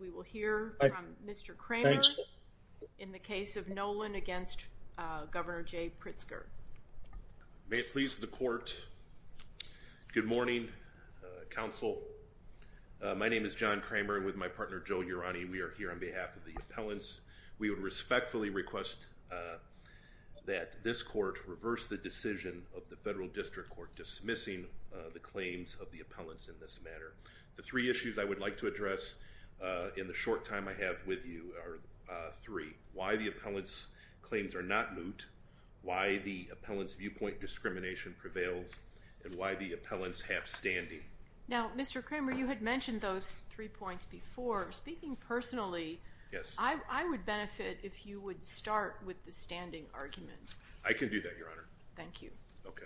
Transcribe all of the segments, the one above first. We will hear from Mr. Kramer in the case of Nowlin against Governor Jay Pritzker. May it please the court, good morning counsel. My name is John Kramer with my partner Joe Urani. We are here on behalf of the appellants. We would respectfully request that this court reverse the decision of the federal district court dismissing the claims of the appellants in this matter. The three issues I would like to address in the short time I have with you are three. Why the appellants' claims are not moot, why the appellants' viewpoint discrimination prevails, and why the appellants have standing. Now, Mr. Kramer, you had mentioned those three points before. Speaking personally, I would benefit if you would start with the standing argument. I can do that, Your Honor. Thank you. Okay.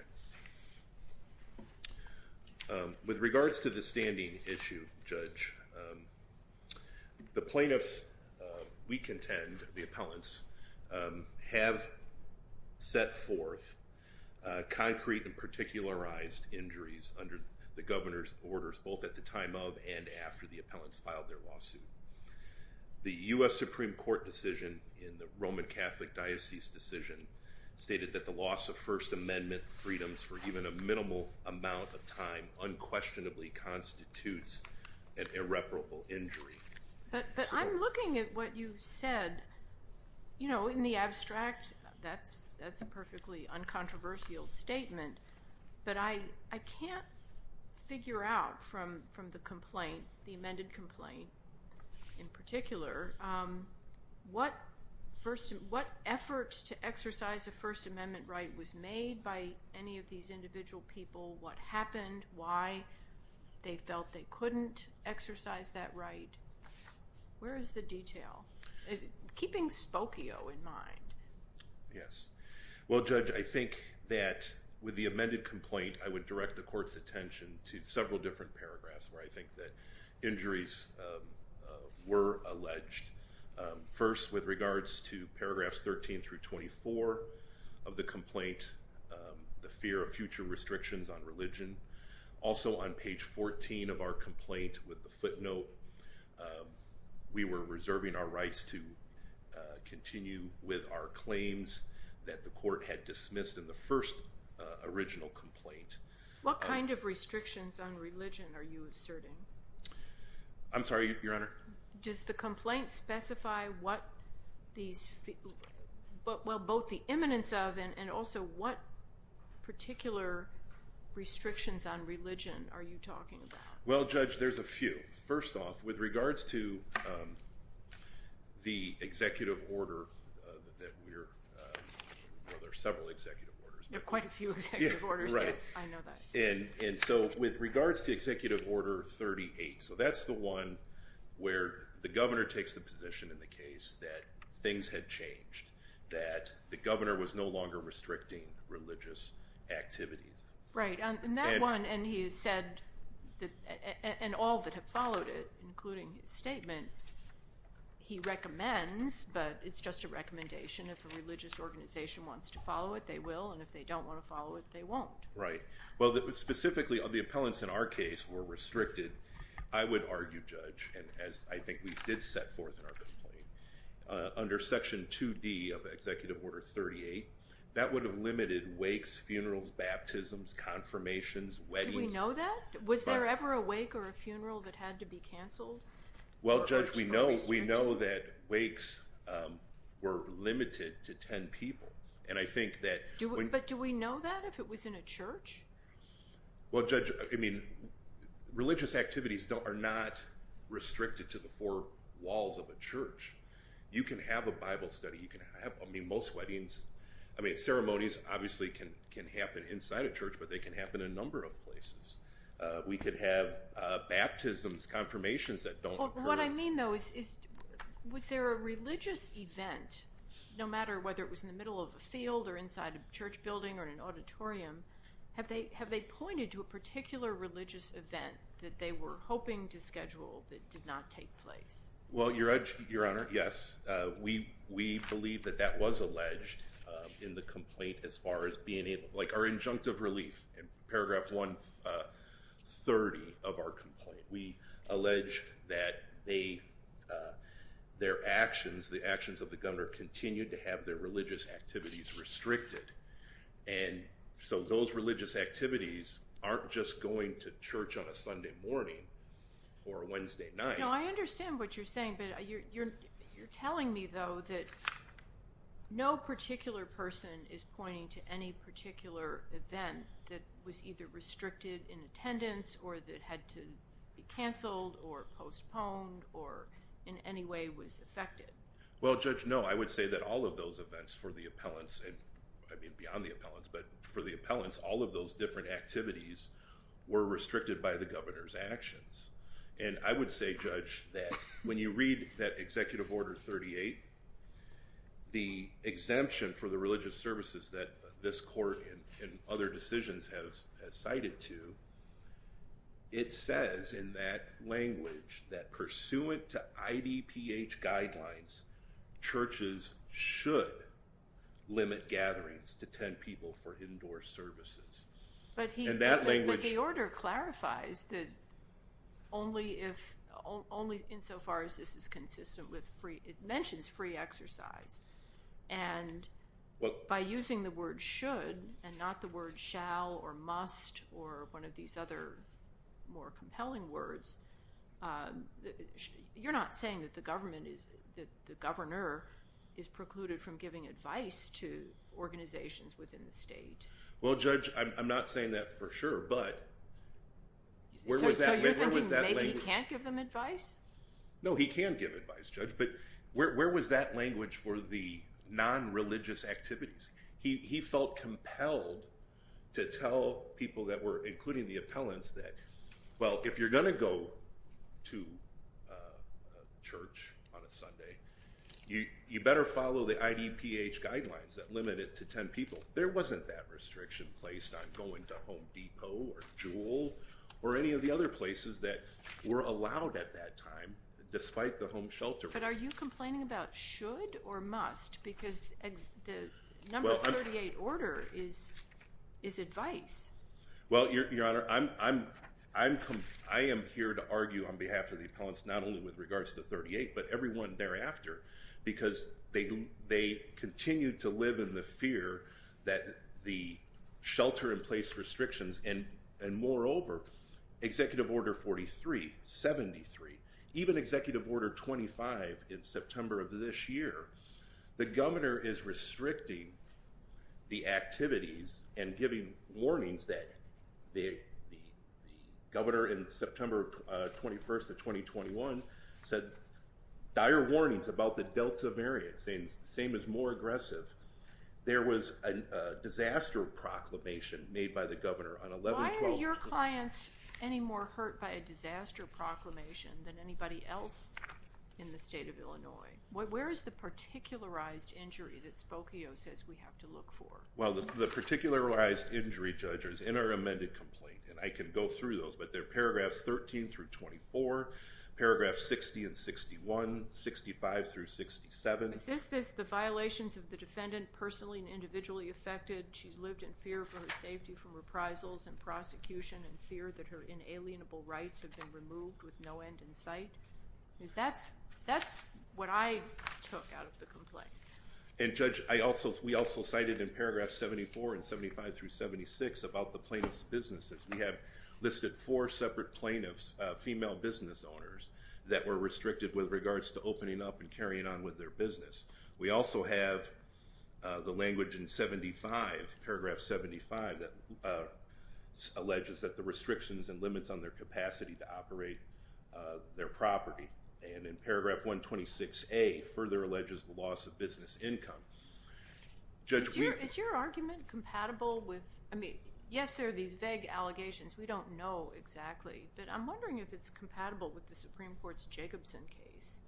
With regards to the standing issue, Judge, the plaintiffs, we contend, the appellants, have set forth concrete and particularized injuries under the governor's orders both at the time of and after the appellants filed their lawsuit. The U.S. Supreme Court decision in the Roman Catholic Diocese decision stated that the loss of First Amendment freedoms for even a minimal amount of time unquestionably constitutes an irreparable injury. But I'm looking at what you said. You know, in the abstract, that's a perfectly uncontroversial statement, but I can't figure out from the complaint, the amended complaint in particular, what effort to exercise a First Amendment right was made by any of these individual people, what happened, why they felt they couldn't exercise that right. Where is the detail? Keeping Spokio in mind. Yes. Well, Judge, I think that with the amended complaint, I would direct the court's attention to several different paragraphs where I think that injuries were alleged. First, with regards to paragraphs 13 through 24 of the complaint, the fear of future restrictions on religion. Also, on page 14 of our complaint with the footnote, we were reserving our rights to continue with our claims that the court had dismissed in the first original complaint. What kind of restrictions on religion are you asserting? I'm sorry, Your Honor? Does the complaint specify what these, well, both the imminence of and also what particular restrictions on religion are you talking about? Well, Judge, there's a few. First off, with regards to the executive order that we're, well, there are several executive orders. There are quite a few executive orders. Yes. I know that. And so, with regards to executive order 38, so that's the one where the governor takes the position in the case that things had changed, that the governor was no longer restricting religious activities. Right. And that one, and he has said, and all that have followed it, including his statement, he recommends, but it's just a recommendation, if a religious organization wants to follow it, they will, and if they don't want to follow it, they won't. Right. Well, specifically, the appellants in our case were restricted. I would argue, Judge, and as I think we did set forth in our complaint, under section 2D of executive order 38, that would have limited wakes, funerals, baptisms, confirmations, weddings. Do we know that? Was there ever a wake or a funeral that had to be canceled? Well, Judge, we know that wakes were limited to 10 people, and I think that when— Was there a religious event at a church? Well, Judge, I mean, religious activities are not restricted to the four walls of a church. You can have a Bible study. You can have, I mean, most weddings, I mean, ceremonies obviously can happen inside a church, but they can happen in a number of places. We could have baptisms, confirmations that don't occur— What I mean, though, is, was there a religious event, no matter whether it was in the middle of a field or inside a church building or in an auditorium, have they pointed to a particular religious event that they were hoping to schedule that did not take place? Well, Your Honor, yes. We believe that that was alleged in the complaint as far as being able—like our injunctive relief in paragraph 130 of our complaint. We allege that their actions, the actions of the governor, continued to have their religious activities restricted. And so those religious activities aren't just going to church on a Sunday morning or Wednesday night. No, I understand what you're saying, but you're telling me, though, that no particular person is pointing to any particular event that was either restricted in attendance or that had to be canceled or postponed or in any way was affected. Well, Judge, no. I would say that all of those events for the appellants—I mean, beyond the appellants—but for the appellants, all of those different activities were restricted by the governor's actions. And I would say, Judge, that when you read that Executive Order 38, the exemption for the religious services that this court and other decisions have cited to, it says in that language that pursuant to IDPH guidelines, churches should limit gatherings to 10 people for indoor services. But the order clarifies that only insofar as this is consistent with free—it mentions free exercise. And by using the word should and not the word shall or must or one of these other more compelling words, you're not saying that the governor is precluded from giving advice to organizations within the state? Well, Judge, I'm not saying that for sure, but where was that language— So you're thinking maybe he can't give them advice? No, he can give advice, Judge, but where was that language for the non-religious activities? He felt compelled to tell people that were—including the appellants—that, well, if you're going to go to church on a Sunday, you better follow the IDPH guidelines that limit it to 10 people. There wasn't that restriction placed on going to Home Depot or Juul or any of the other places that were allowed at that time, despite the home shelter rule. But are you complaining about should or must? Because the number 38 order is advice. Well, Your Honor, I am here to argue on behalf of the appellants not only with regards to 38, but everyone thereafter, because they continue to live in the fear that the shelter-in-place restrictions and, moreover, Executive Order 43, 73, even Executive Order 25 in September of this year, the governor is restricting the activities and giving warnings that—the governor in September 21st of 2021 said dire warnings about the Delta variant, saying the same is more aggressive. There was a disaster proclamation made by the governor on 11-12— Why are your clients any more hurt by a disaster proclamation than anybody else in the state of Illinois? Where is the particularized injury that Spokio says we have to look for? Well, the particularized injury, Judge, is in our amended complaint, and I can go through those, but they're paragraphs 13 through 24, paragraphs 60 and 61, 65 through 67. Is this the violations of the defendant personally and individually affected? She's lived in fear for her safety from reprisals and prosecution and fear that her inalienable rights have been removed with no end in sight? That's what I took out of the complaint. And, Judge, we also cited in paragraphs 74 and 75 through 76 about the plaintiff's businesses. We have listed four separate plaintiffs, female business owners, that were restricted with regards to opening up and carrying on with their business. We also have the language in 75, paragraph 75, that alleges that the restrictions and And in paragraph 126A, further alleges the loss of business income. Judge, we... Is your argument compatible with... I mean, yes, there are these vague allegations. We don't know exactly, but I'm wondering if it's compatible with the Supreme Court's Jacobson case.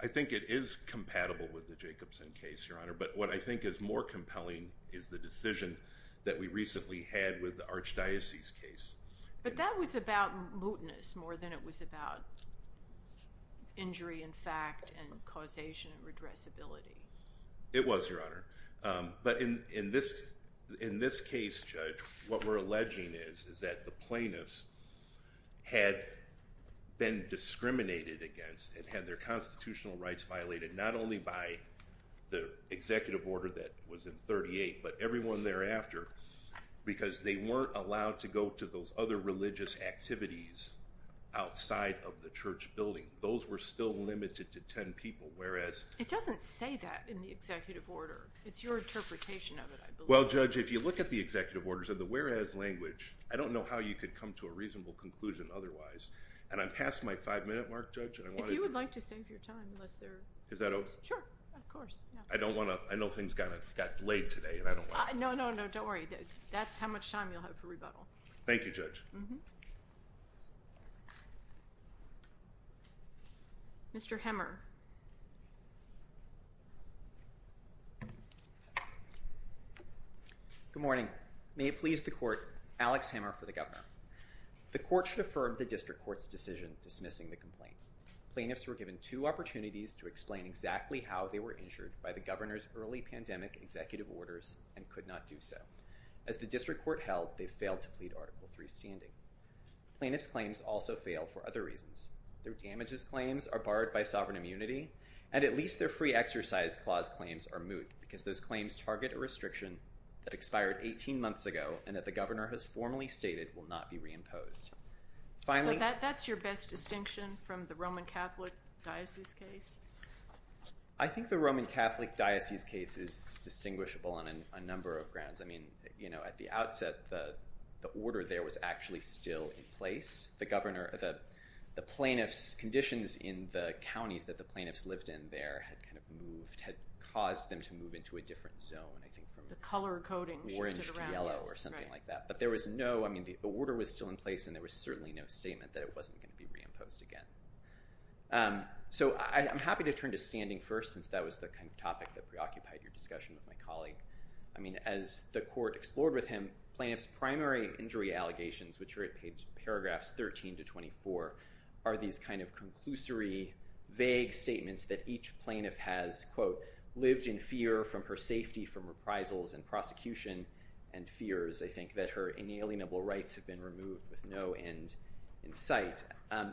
I think it is compatible with the Jacobson case, Your Honor, but what I think is more compelling is the decision that we recently had with the Archdiocese case. But that was about mootness more than it was about injury and fact and causation and redressability. It was, Your Honor. But in this case, Judge, what we're alleging is that the plaintiffs had been discriminated against and had their constitutional rights violated, not only by the executive order that was in 38, but everyone thereafter, because they weren't allowed to go to those other religious activities outside of the church building. Those were still limited to 10 people, whereas... It doesn't say that in the executive order. It's your interpretation of it, I believe. Well, Judge, if you look at the executive orders and the whereas language, I don't know how you could come to a reasonable conclusion otherwise. And I'm past my five-minute mark, Judge, and I want to... If you would like to save your time, unless there... Is that okay? Sure, of course. I don't want to... I know things got delayed today, and I don't want to... No, no, no. Don't worry. That's how much time you'll have for rebuttal. Thank you, Judge. Mr. Hemmer. Good morning. May it please the Court, Alex Hemmer for the Governor. The Court should affirm the District Court's decision dismissing the complaint. Plaintiffs were given two opportunities to explain exactly how they were injured by the Governor's early pandemic executive orders and could not do so. As the District Court held, they failed to plead Article III standing. Plaintiff's claims also fail for other reasons. Their damages claims are barred by sovereign immunity, and at least their free exercise clause claims are moot because those claims target a restriction that expired 18 months ago and that the Governor has formally stated will not be reimposed. Finally... That's your best distinction from the Roman Catholic Diocese case? I think the Roman Catholic Diocese case is distinguishable on a number of grounds. I mean, you know, at the outset, the order there was actually still in place. The Governor, the plaintiff's conditions in the counties that the plaintiffs lived in there had kind of moved, had caused them to move into a different zone, I think from... The color coding shifted around. ...orange to yellow or something like that. But there was no... I mean, the order was still in place, and there was certainly no statement that it wasn't going to be reimposed again. So I'm happy to turn to standing first, since that was the kind of topic that preoccupied your discussion with my colleague. I mean, as the court explored with him, plaintiff's primary injury allegations, which are at paragraphs 13 to 24, are these kind of conclusory, vague statements that each plaintiff has, quote, lived in fear from her safety from reprisals and prosecution and fears, I think, that her inalienable rights have been removed with no end in sight.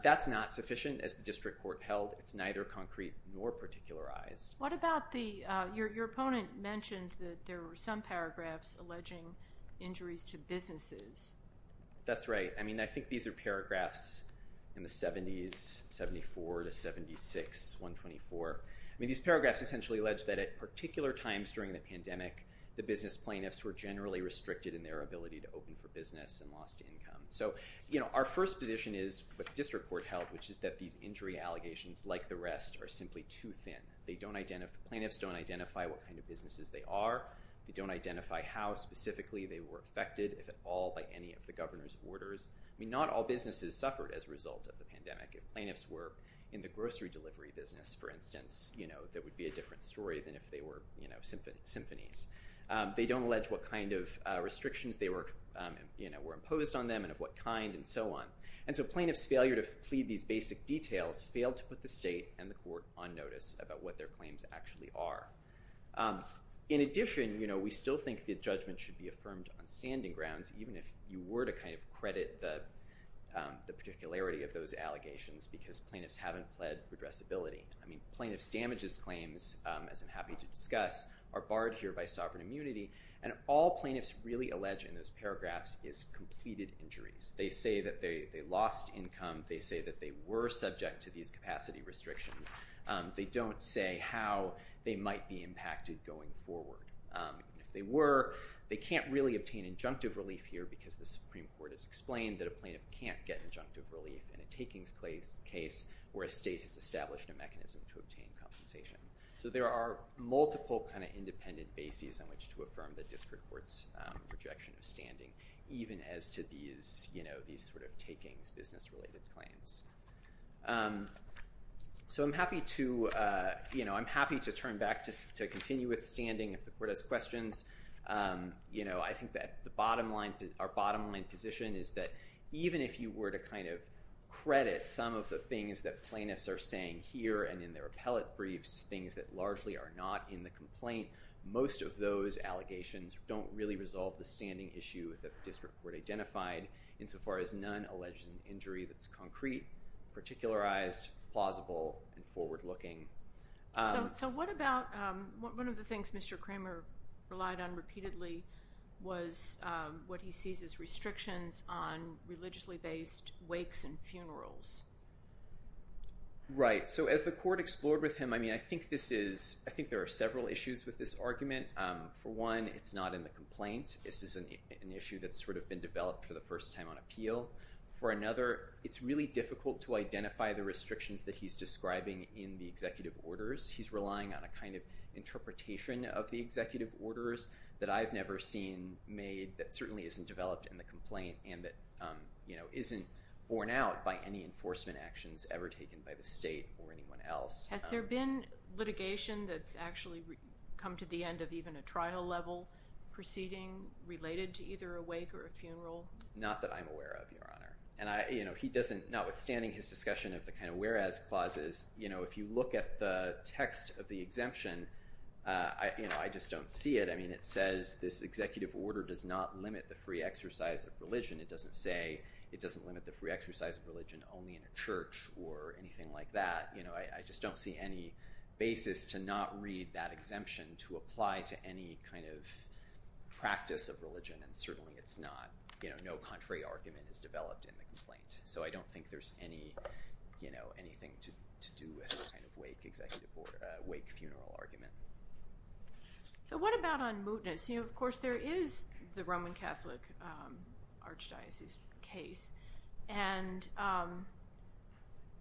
That's not sufficient, as the district court held. It's neither concrete nor particularized. What about the... Your opponent mentioned that there were some paragraphs alleging injuries to businesses. That's right. I mean, I think these are paragraphs in the 70s, 74 to 76, 124. The business plaintiffs were generally restricted in their ability to open for business and lost income. So our first position is, what the district court held, which is that these injury allegations, like the rest, are simply too thin. Plaintiffs don't identify what kind of businesses they are. They don't identify how specifically they were affected, if at all, by any of the governor's orders. I mean, not all businesses suffered as a result of the pandemic. If plaintiffs were in the grocery delivery business, for instance, that would be a different story than if they were symphonies. They don't allege what kind of restrictions were imposed on them, and of what kind, and so on. And so plaintiffs' failure to plead these basic details failed to put the state and the court on notice about what their claims actually are. In addition, we still think that judgment should be affirmed on standing grounds, even if you were to kind of credit the particularity of those allegations, because plaintiffs haven't pled redressability. I mean, plaintiffs' damages claims, as I'm happy to discuss, are barred here by sovereign immunity. And all plaintiffs really allege in those paragraphs is completed injuries. They say that they lost income. They say that they were subject to these capacity restrictions. They don't say how they might be impacted going forward. If they were, they can't really obtain injunctive relief here, because the Supreme Court has explained that a plaintiff can't get injunctive relief in a takings case, where a state has a mechanism to obtain compensation. So there are multiple kind of independent bases on which to affirm the district court's rejection of standing, even as to these sort of takings, business-related claims. So I'm happy to turn back to continue with standing if the court has questions. I think that our bottom line position is that even if you were to kind of credit some of the things that plaintiffs are saying here and in their appellate briefs, things that largely are not in the complaint, most of those allegations don't really resolve the standing issue that the district court identified, insofar as none alleges an injury that's concrete, particularized, plausible, and forward-looking. So what about one of the things Mr. Kramer relied on repeatedly was what he sees as restrictions on religiously-based wakes and funerals? Right. So as the court explored with him, I mean, I think there are several issues with this argument. For one, it's not in the complaint. This is an issue that's sort of been developed for the first time on appeal. For another, it's really difficult to identify the restrictions that he's describing in the executive orders. He's relying on a kind of interpretation of the executive orders that I've never seen made that certainly isn't developed in the complaint and that isn't borne out by any enforcement actions ever taken by the state or anyone else. Has there been litigation that's actually come to the end of even a trial-level proceeding related to either a wake or a funeral? Not that I'm aware of, Your Honor. And he doesn't, notwithstanding his discussion of the kind of whereas clauses, if you look at the text of the exemption, I just don't see it. I mean, it says this executive order does not limit the free exercise of religion. It doesn't say it doesn't limit the free exercise of religion only in a church or anything like that. I just don't see any basis to not read that exemption to apply to any kind of practice of religion. And certainly, it's not. No contrary argument is developed in the complaint. So I don't think there's anything to do with a kind of wake funeral argument. So what about on mootness? Of course, there is the Roman Catholic archdiocese case. And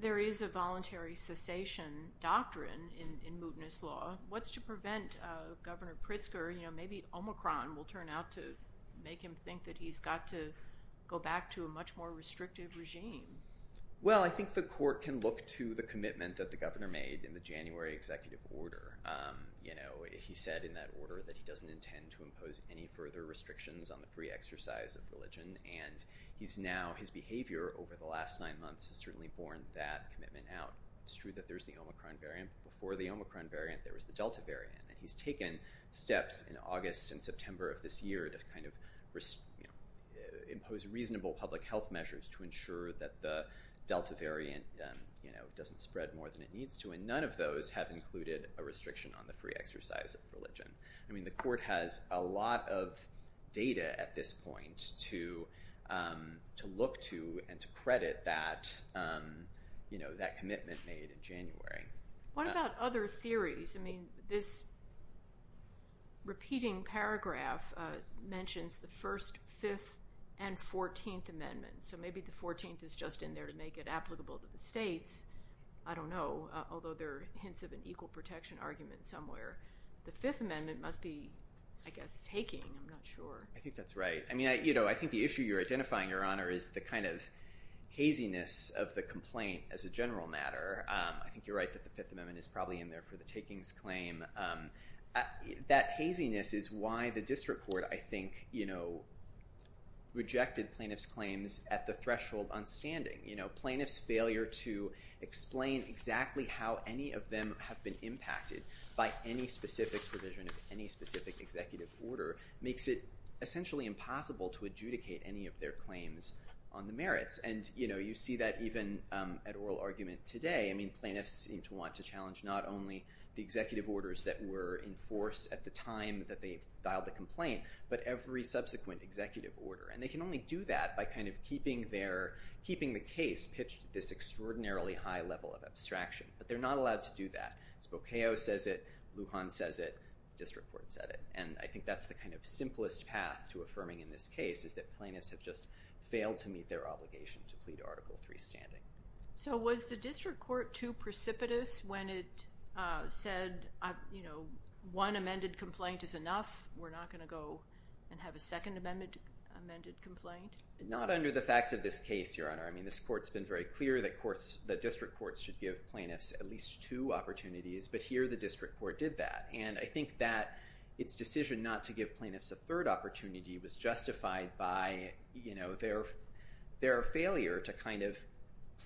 there is a voluntary cessation doctrine in mootness law. What's to prevent Governor Pritzker? Maybe Omicron will turn out to make him think that he's got to go back to a much more restrictive regime. Well, I think the court can look to the commitment that the governor made in the January executive order. You know, he said in that order that he doesn't intend to impose any further restrictions on the free exercise of religion. And he's now, his behavior over the last nine months has certainly borne that commitment out. It's true that there's the Omicron variant. Before the Omicron variant, there was the Delta variant. And he's taken steps in August and September of this year to kind of impose reasonable public health measures to ensure that the Delta variant doesn't spread more than it needs to. And none of those have included a restriction on the free exercise of religion. I mean, the court has a lot of data at this point to look to and to credit that commitment made in January. What about other theories? I mean, this repeating paragraph mentions the first, fifth, and 14th amendments. So maybe the 14th is just in there to make it applicable to the states. I don't know, although there are hints of an equal protection argument somewhere. The Fifth Amendment must be, I guess, taking. I'm not sure. I think that's right. I mean, you know, I think the issue you're identifying, Your Honor, is the kind of haziness of the complaint as a general matter. I think you're right that the Fifth Amendment is probably in there for the takings claim. That haziness is why the district court, I think, you know, rejected plaintiff's claims at the threshold on standing. Plaintiff's failure to explain exactly how any of them have been impacted by any specific provision of any specific executive order makes it essentially impossible to adjudicate any of their claims on the merits. And, you know, you see that even at oral argument today. I mean, plaintiffs seem to want to challenge not only the executive orders that were in force at the time that they filed the complaint, but every subsequent executive order. And they can only do that by kind of keeping the case pitched at this extraordinarily high level of abstraction. But they're not allowed to do that. Spokeo says it. Lujan says it. District court said it. And I think that's the kind of simplest path to affirming in this case is that plaintiffs have just failed to meet their obligation to plead Article III standing. So was the district court too precipitous when it said, you know, one amended complaint is enough. We're not going to go and have a second amended complaint? Not under the facts of this case, Your Honor. I mean, this court's been very clear that courts, that district courts should give plaintiffs at least two opportunities. But here the district court did that. And I think that its decision not to give plaintiffs a third opportunity was justified by, you know, their failure to kind of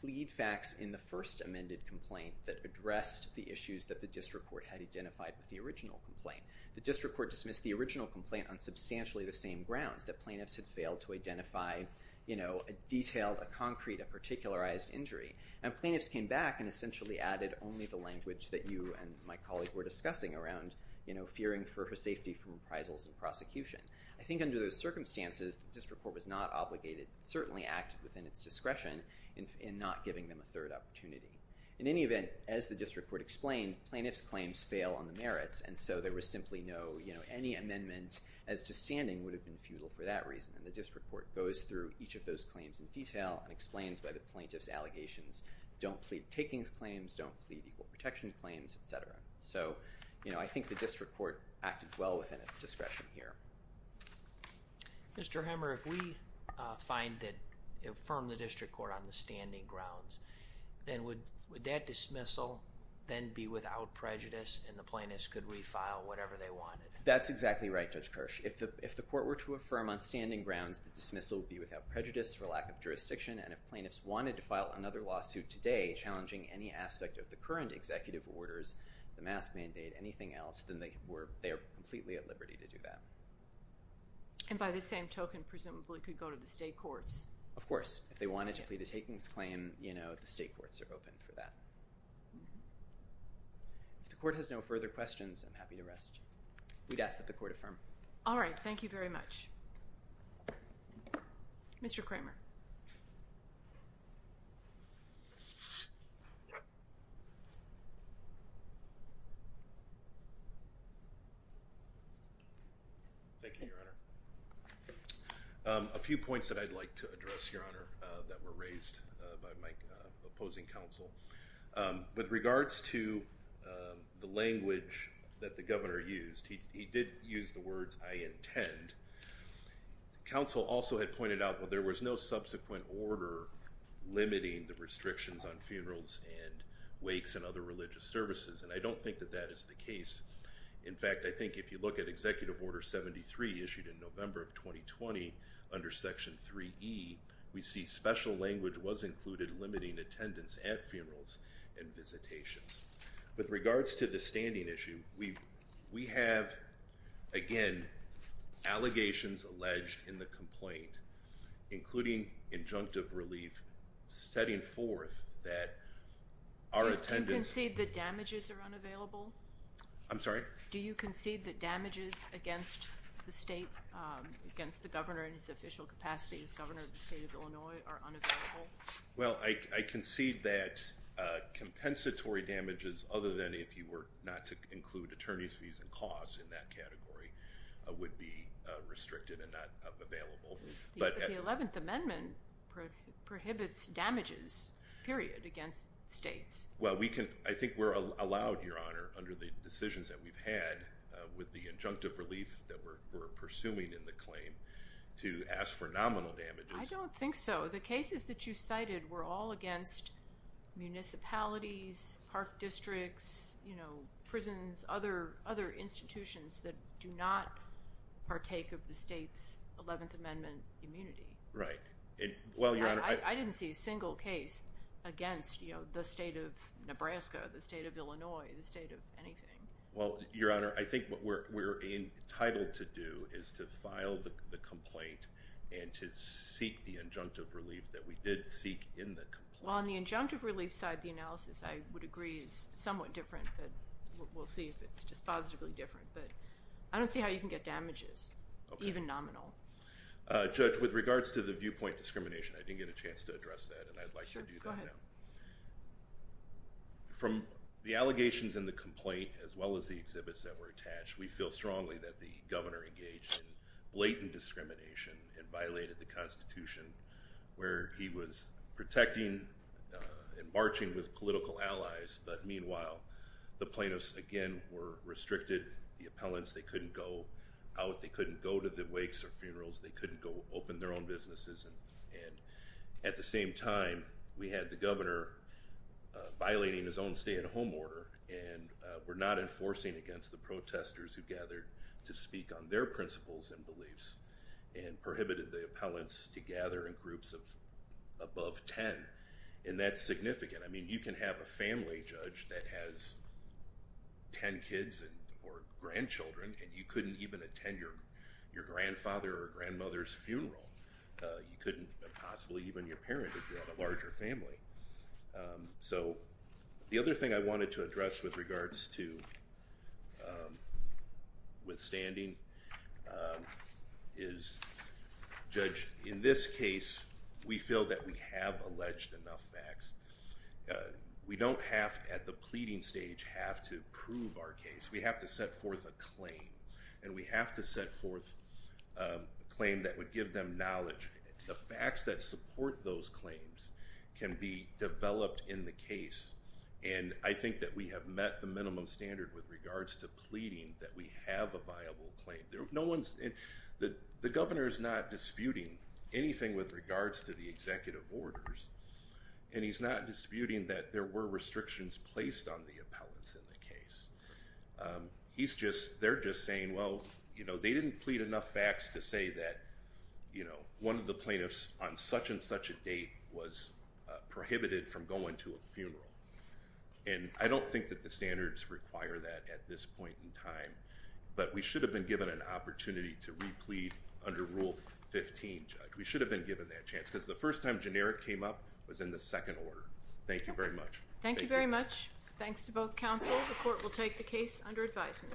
plead facts in the first amended complaint that addressed the issues that the district court had identified with the original complaint. The district court dismissed the original complaint on substantially the same grounds, that plaintiffs had failed to identify, you know, a detailed, a concrete, a particularized injury. And plaintiffs came back and essentially added only the language that you and my colleague were discussing around, you know, fearing for her safety from appraisals and prosecution. I think under those circumstances, the district court was not obligated, certainly acted within its discretion in not giving them a third opportunity. In any event, as the district court explained, plaintiffs' claims fail on the merits. And so there was simply no, you know, any amendment as to standing would have been futile for that reason. And the district court goes through each of those claims in detail and explains why the plaintiffs' allegations don't plead takings claims, don't plead equal protection claims, et cetera. So, you know, I think the district court acted well within its discretion here. Mr. Hammer, if we find that, affirm the district court on the standing grounds, then would that dismissal then be without prejudice and the plaintiffs could refile whatever they wanted? That's exactly right, Judge Kirsch. If the court were to affirm on standing grounds, the dismissal would be without prejudice for lack of jurisdiction. And if plaintiffs wanted to file another lawsuit today challenging any aspect of the current executive orders, the mask mandate, anything else, then they were, they're completely at liberty to do that. And by the same token, presumably could go to the state courts. Of course, if they wanted to plead a takings claim, you know, the state courts are open for that. If the court has no further questions, I'm happy to rest. We'd ask that the court affirm. All right. Thank you very much. Mr. Kramer. Thank you, Your Honor. A few points that I'd like to address, Your Honor, that were raised by my opposing counsel. With regards to the language that the governor used, he did use the words, I intend. Counsel also had pointed out, well, there was no subsequent order limiting the restrictions on funerals and wakes and other religious services. And I don't think that that is the case. In fact, I think if you look at executive order 73 issued in November of 2020 under section 3E, we see special language was included limiting attendance at funerals and visitations. With regards to the standing issue, we have, again, allegations alleged in the complaint, including injunctive relief, setting forth that our attendance- Do you concede that damages are unavailable? I'm sorry? Do you concede that damages against the state, against the governor in his official capacity as governor of the state of Illinois are unavailable? Well, I concede that compensatory damages, other than if you were not to include attorney's fees and costs in that category, would be restricted and not available. But the 11th Amendment prohibits damages, period, against states. Well, I think we're allowed, Your Honor, under the decisions that we've had with the injunctive relief that we're pursuing in the claim to ask for nominal damages. I don't think so. The cases that you cited were all against municipalities, park districts, prisons, other institutions that do not partake of the state's 11th Amendment immunity. Right. Well, Your Honor- I didn't see a single case against the state of Nebraska, the state of Illinois, the state of anything. Well, Your Honor, I think what we're entitled to do is to file the complaint and to seek the injunctive relief that we did seek in the complaint. Well, on the injunctive relief side, the analysis, I would agree, is somewhat different, but we'll see if it's dispositively different. But I don't see how you can get damages, even nominal. Judge, with regards to the viewpoint discrimination, I didn't get a chance to address that, and I'd like to do that now. Sure, go ahead. From the allegations in the complaint, as well as the exhibits that were attached, we feel strongly that the governor engaged in blatant discrimination and violated the Constitution, where he was protecting and marching with political allies. But meanwhile, the plaintiffs, again, were restricted. The appellants, they couldn't go out. They couldn't go to the wakes or funerals. They couldn't go open their own businesses. And at the same time, we had the governor violating his own stay-at-home order and were not enforcing against the protesters who gathered to speak on their principles and beliefs, and prohibited the appellants to gather in groups of above 10. And that's significant. I mean, you can have a family judge that has 10 kids or grandchildren, and you couldn't even attend your grandfather or grandmother's funeral. You couldn't possibly even your parent if you had a larger family. So the other thing I wanted to address with regards to withstanding is, Judge, in this case, we feel that we have alleged enough facts. We don't have, at the pleading stage, have to prove our case. We have to set forth a claim. And we have to set forth a claim that would give them knowledge. The facts that support those claims can be developed in the case. And I think that we have met the minimum standard with regards to pleading that we have a viable claim. There was no one's, the governor is not disputing anything with regards to the executive orders. And he's not disputing that there were restrictions placed on the appellants in the case. He's just, they're just saying, well, you know, they didn't plead enough facts to say that, you know, one of the plaintiffs on such and such a date was prohibited from going to a funeral. And I don't think that the standards require that at this point in time. But we should have been given an opportunity to replete under Rule 15. We should have been given that chance because the first time generic came up was in the second order. Thank you very much. Thank you very much. Thanks to both counsel. The court will take the case under advisement. Thank you.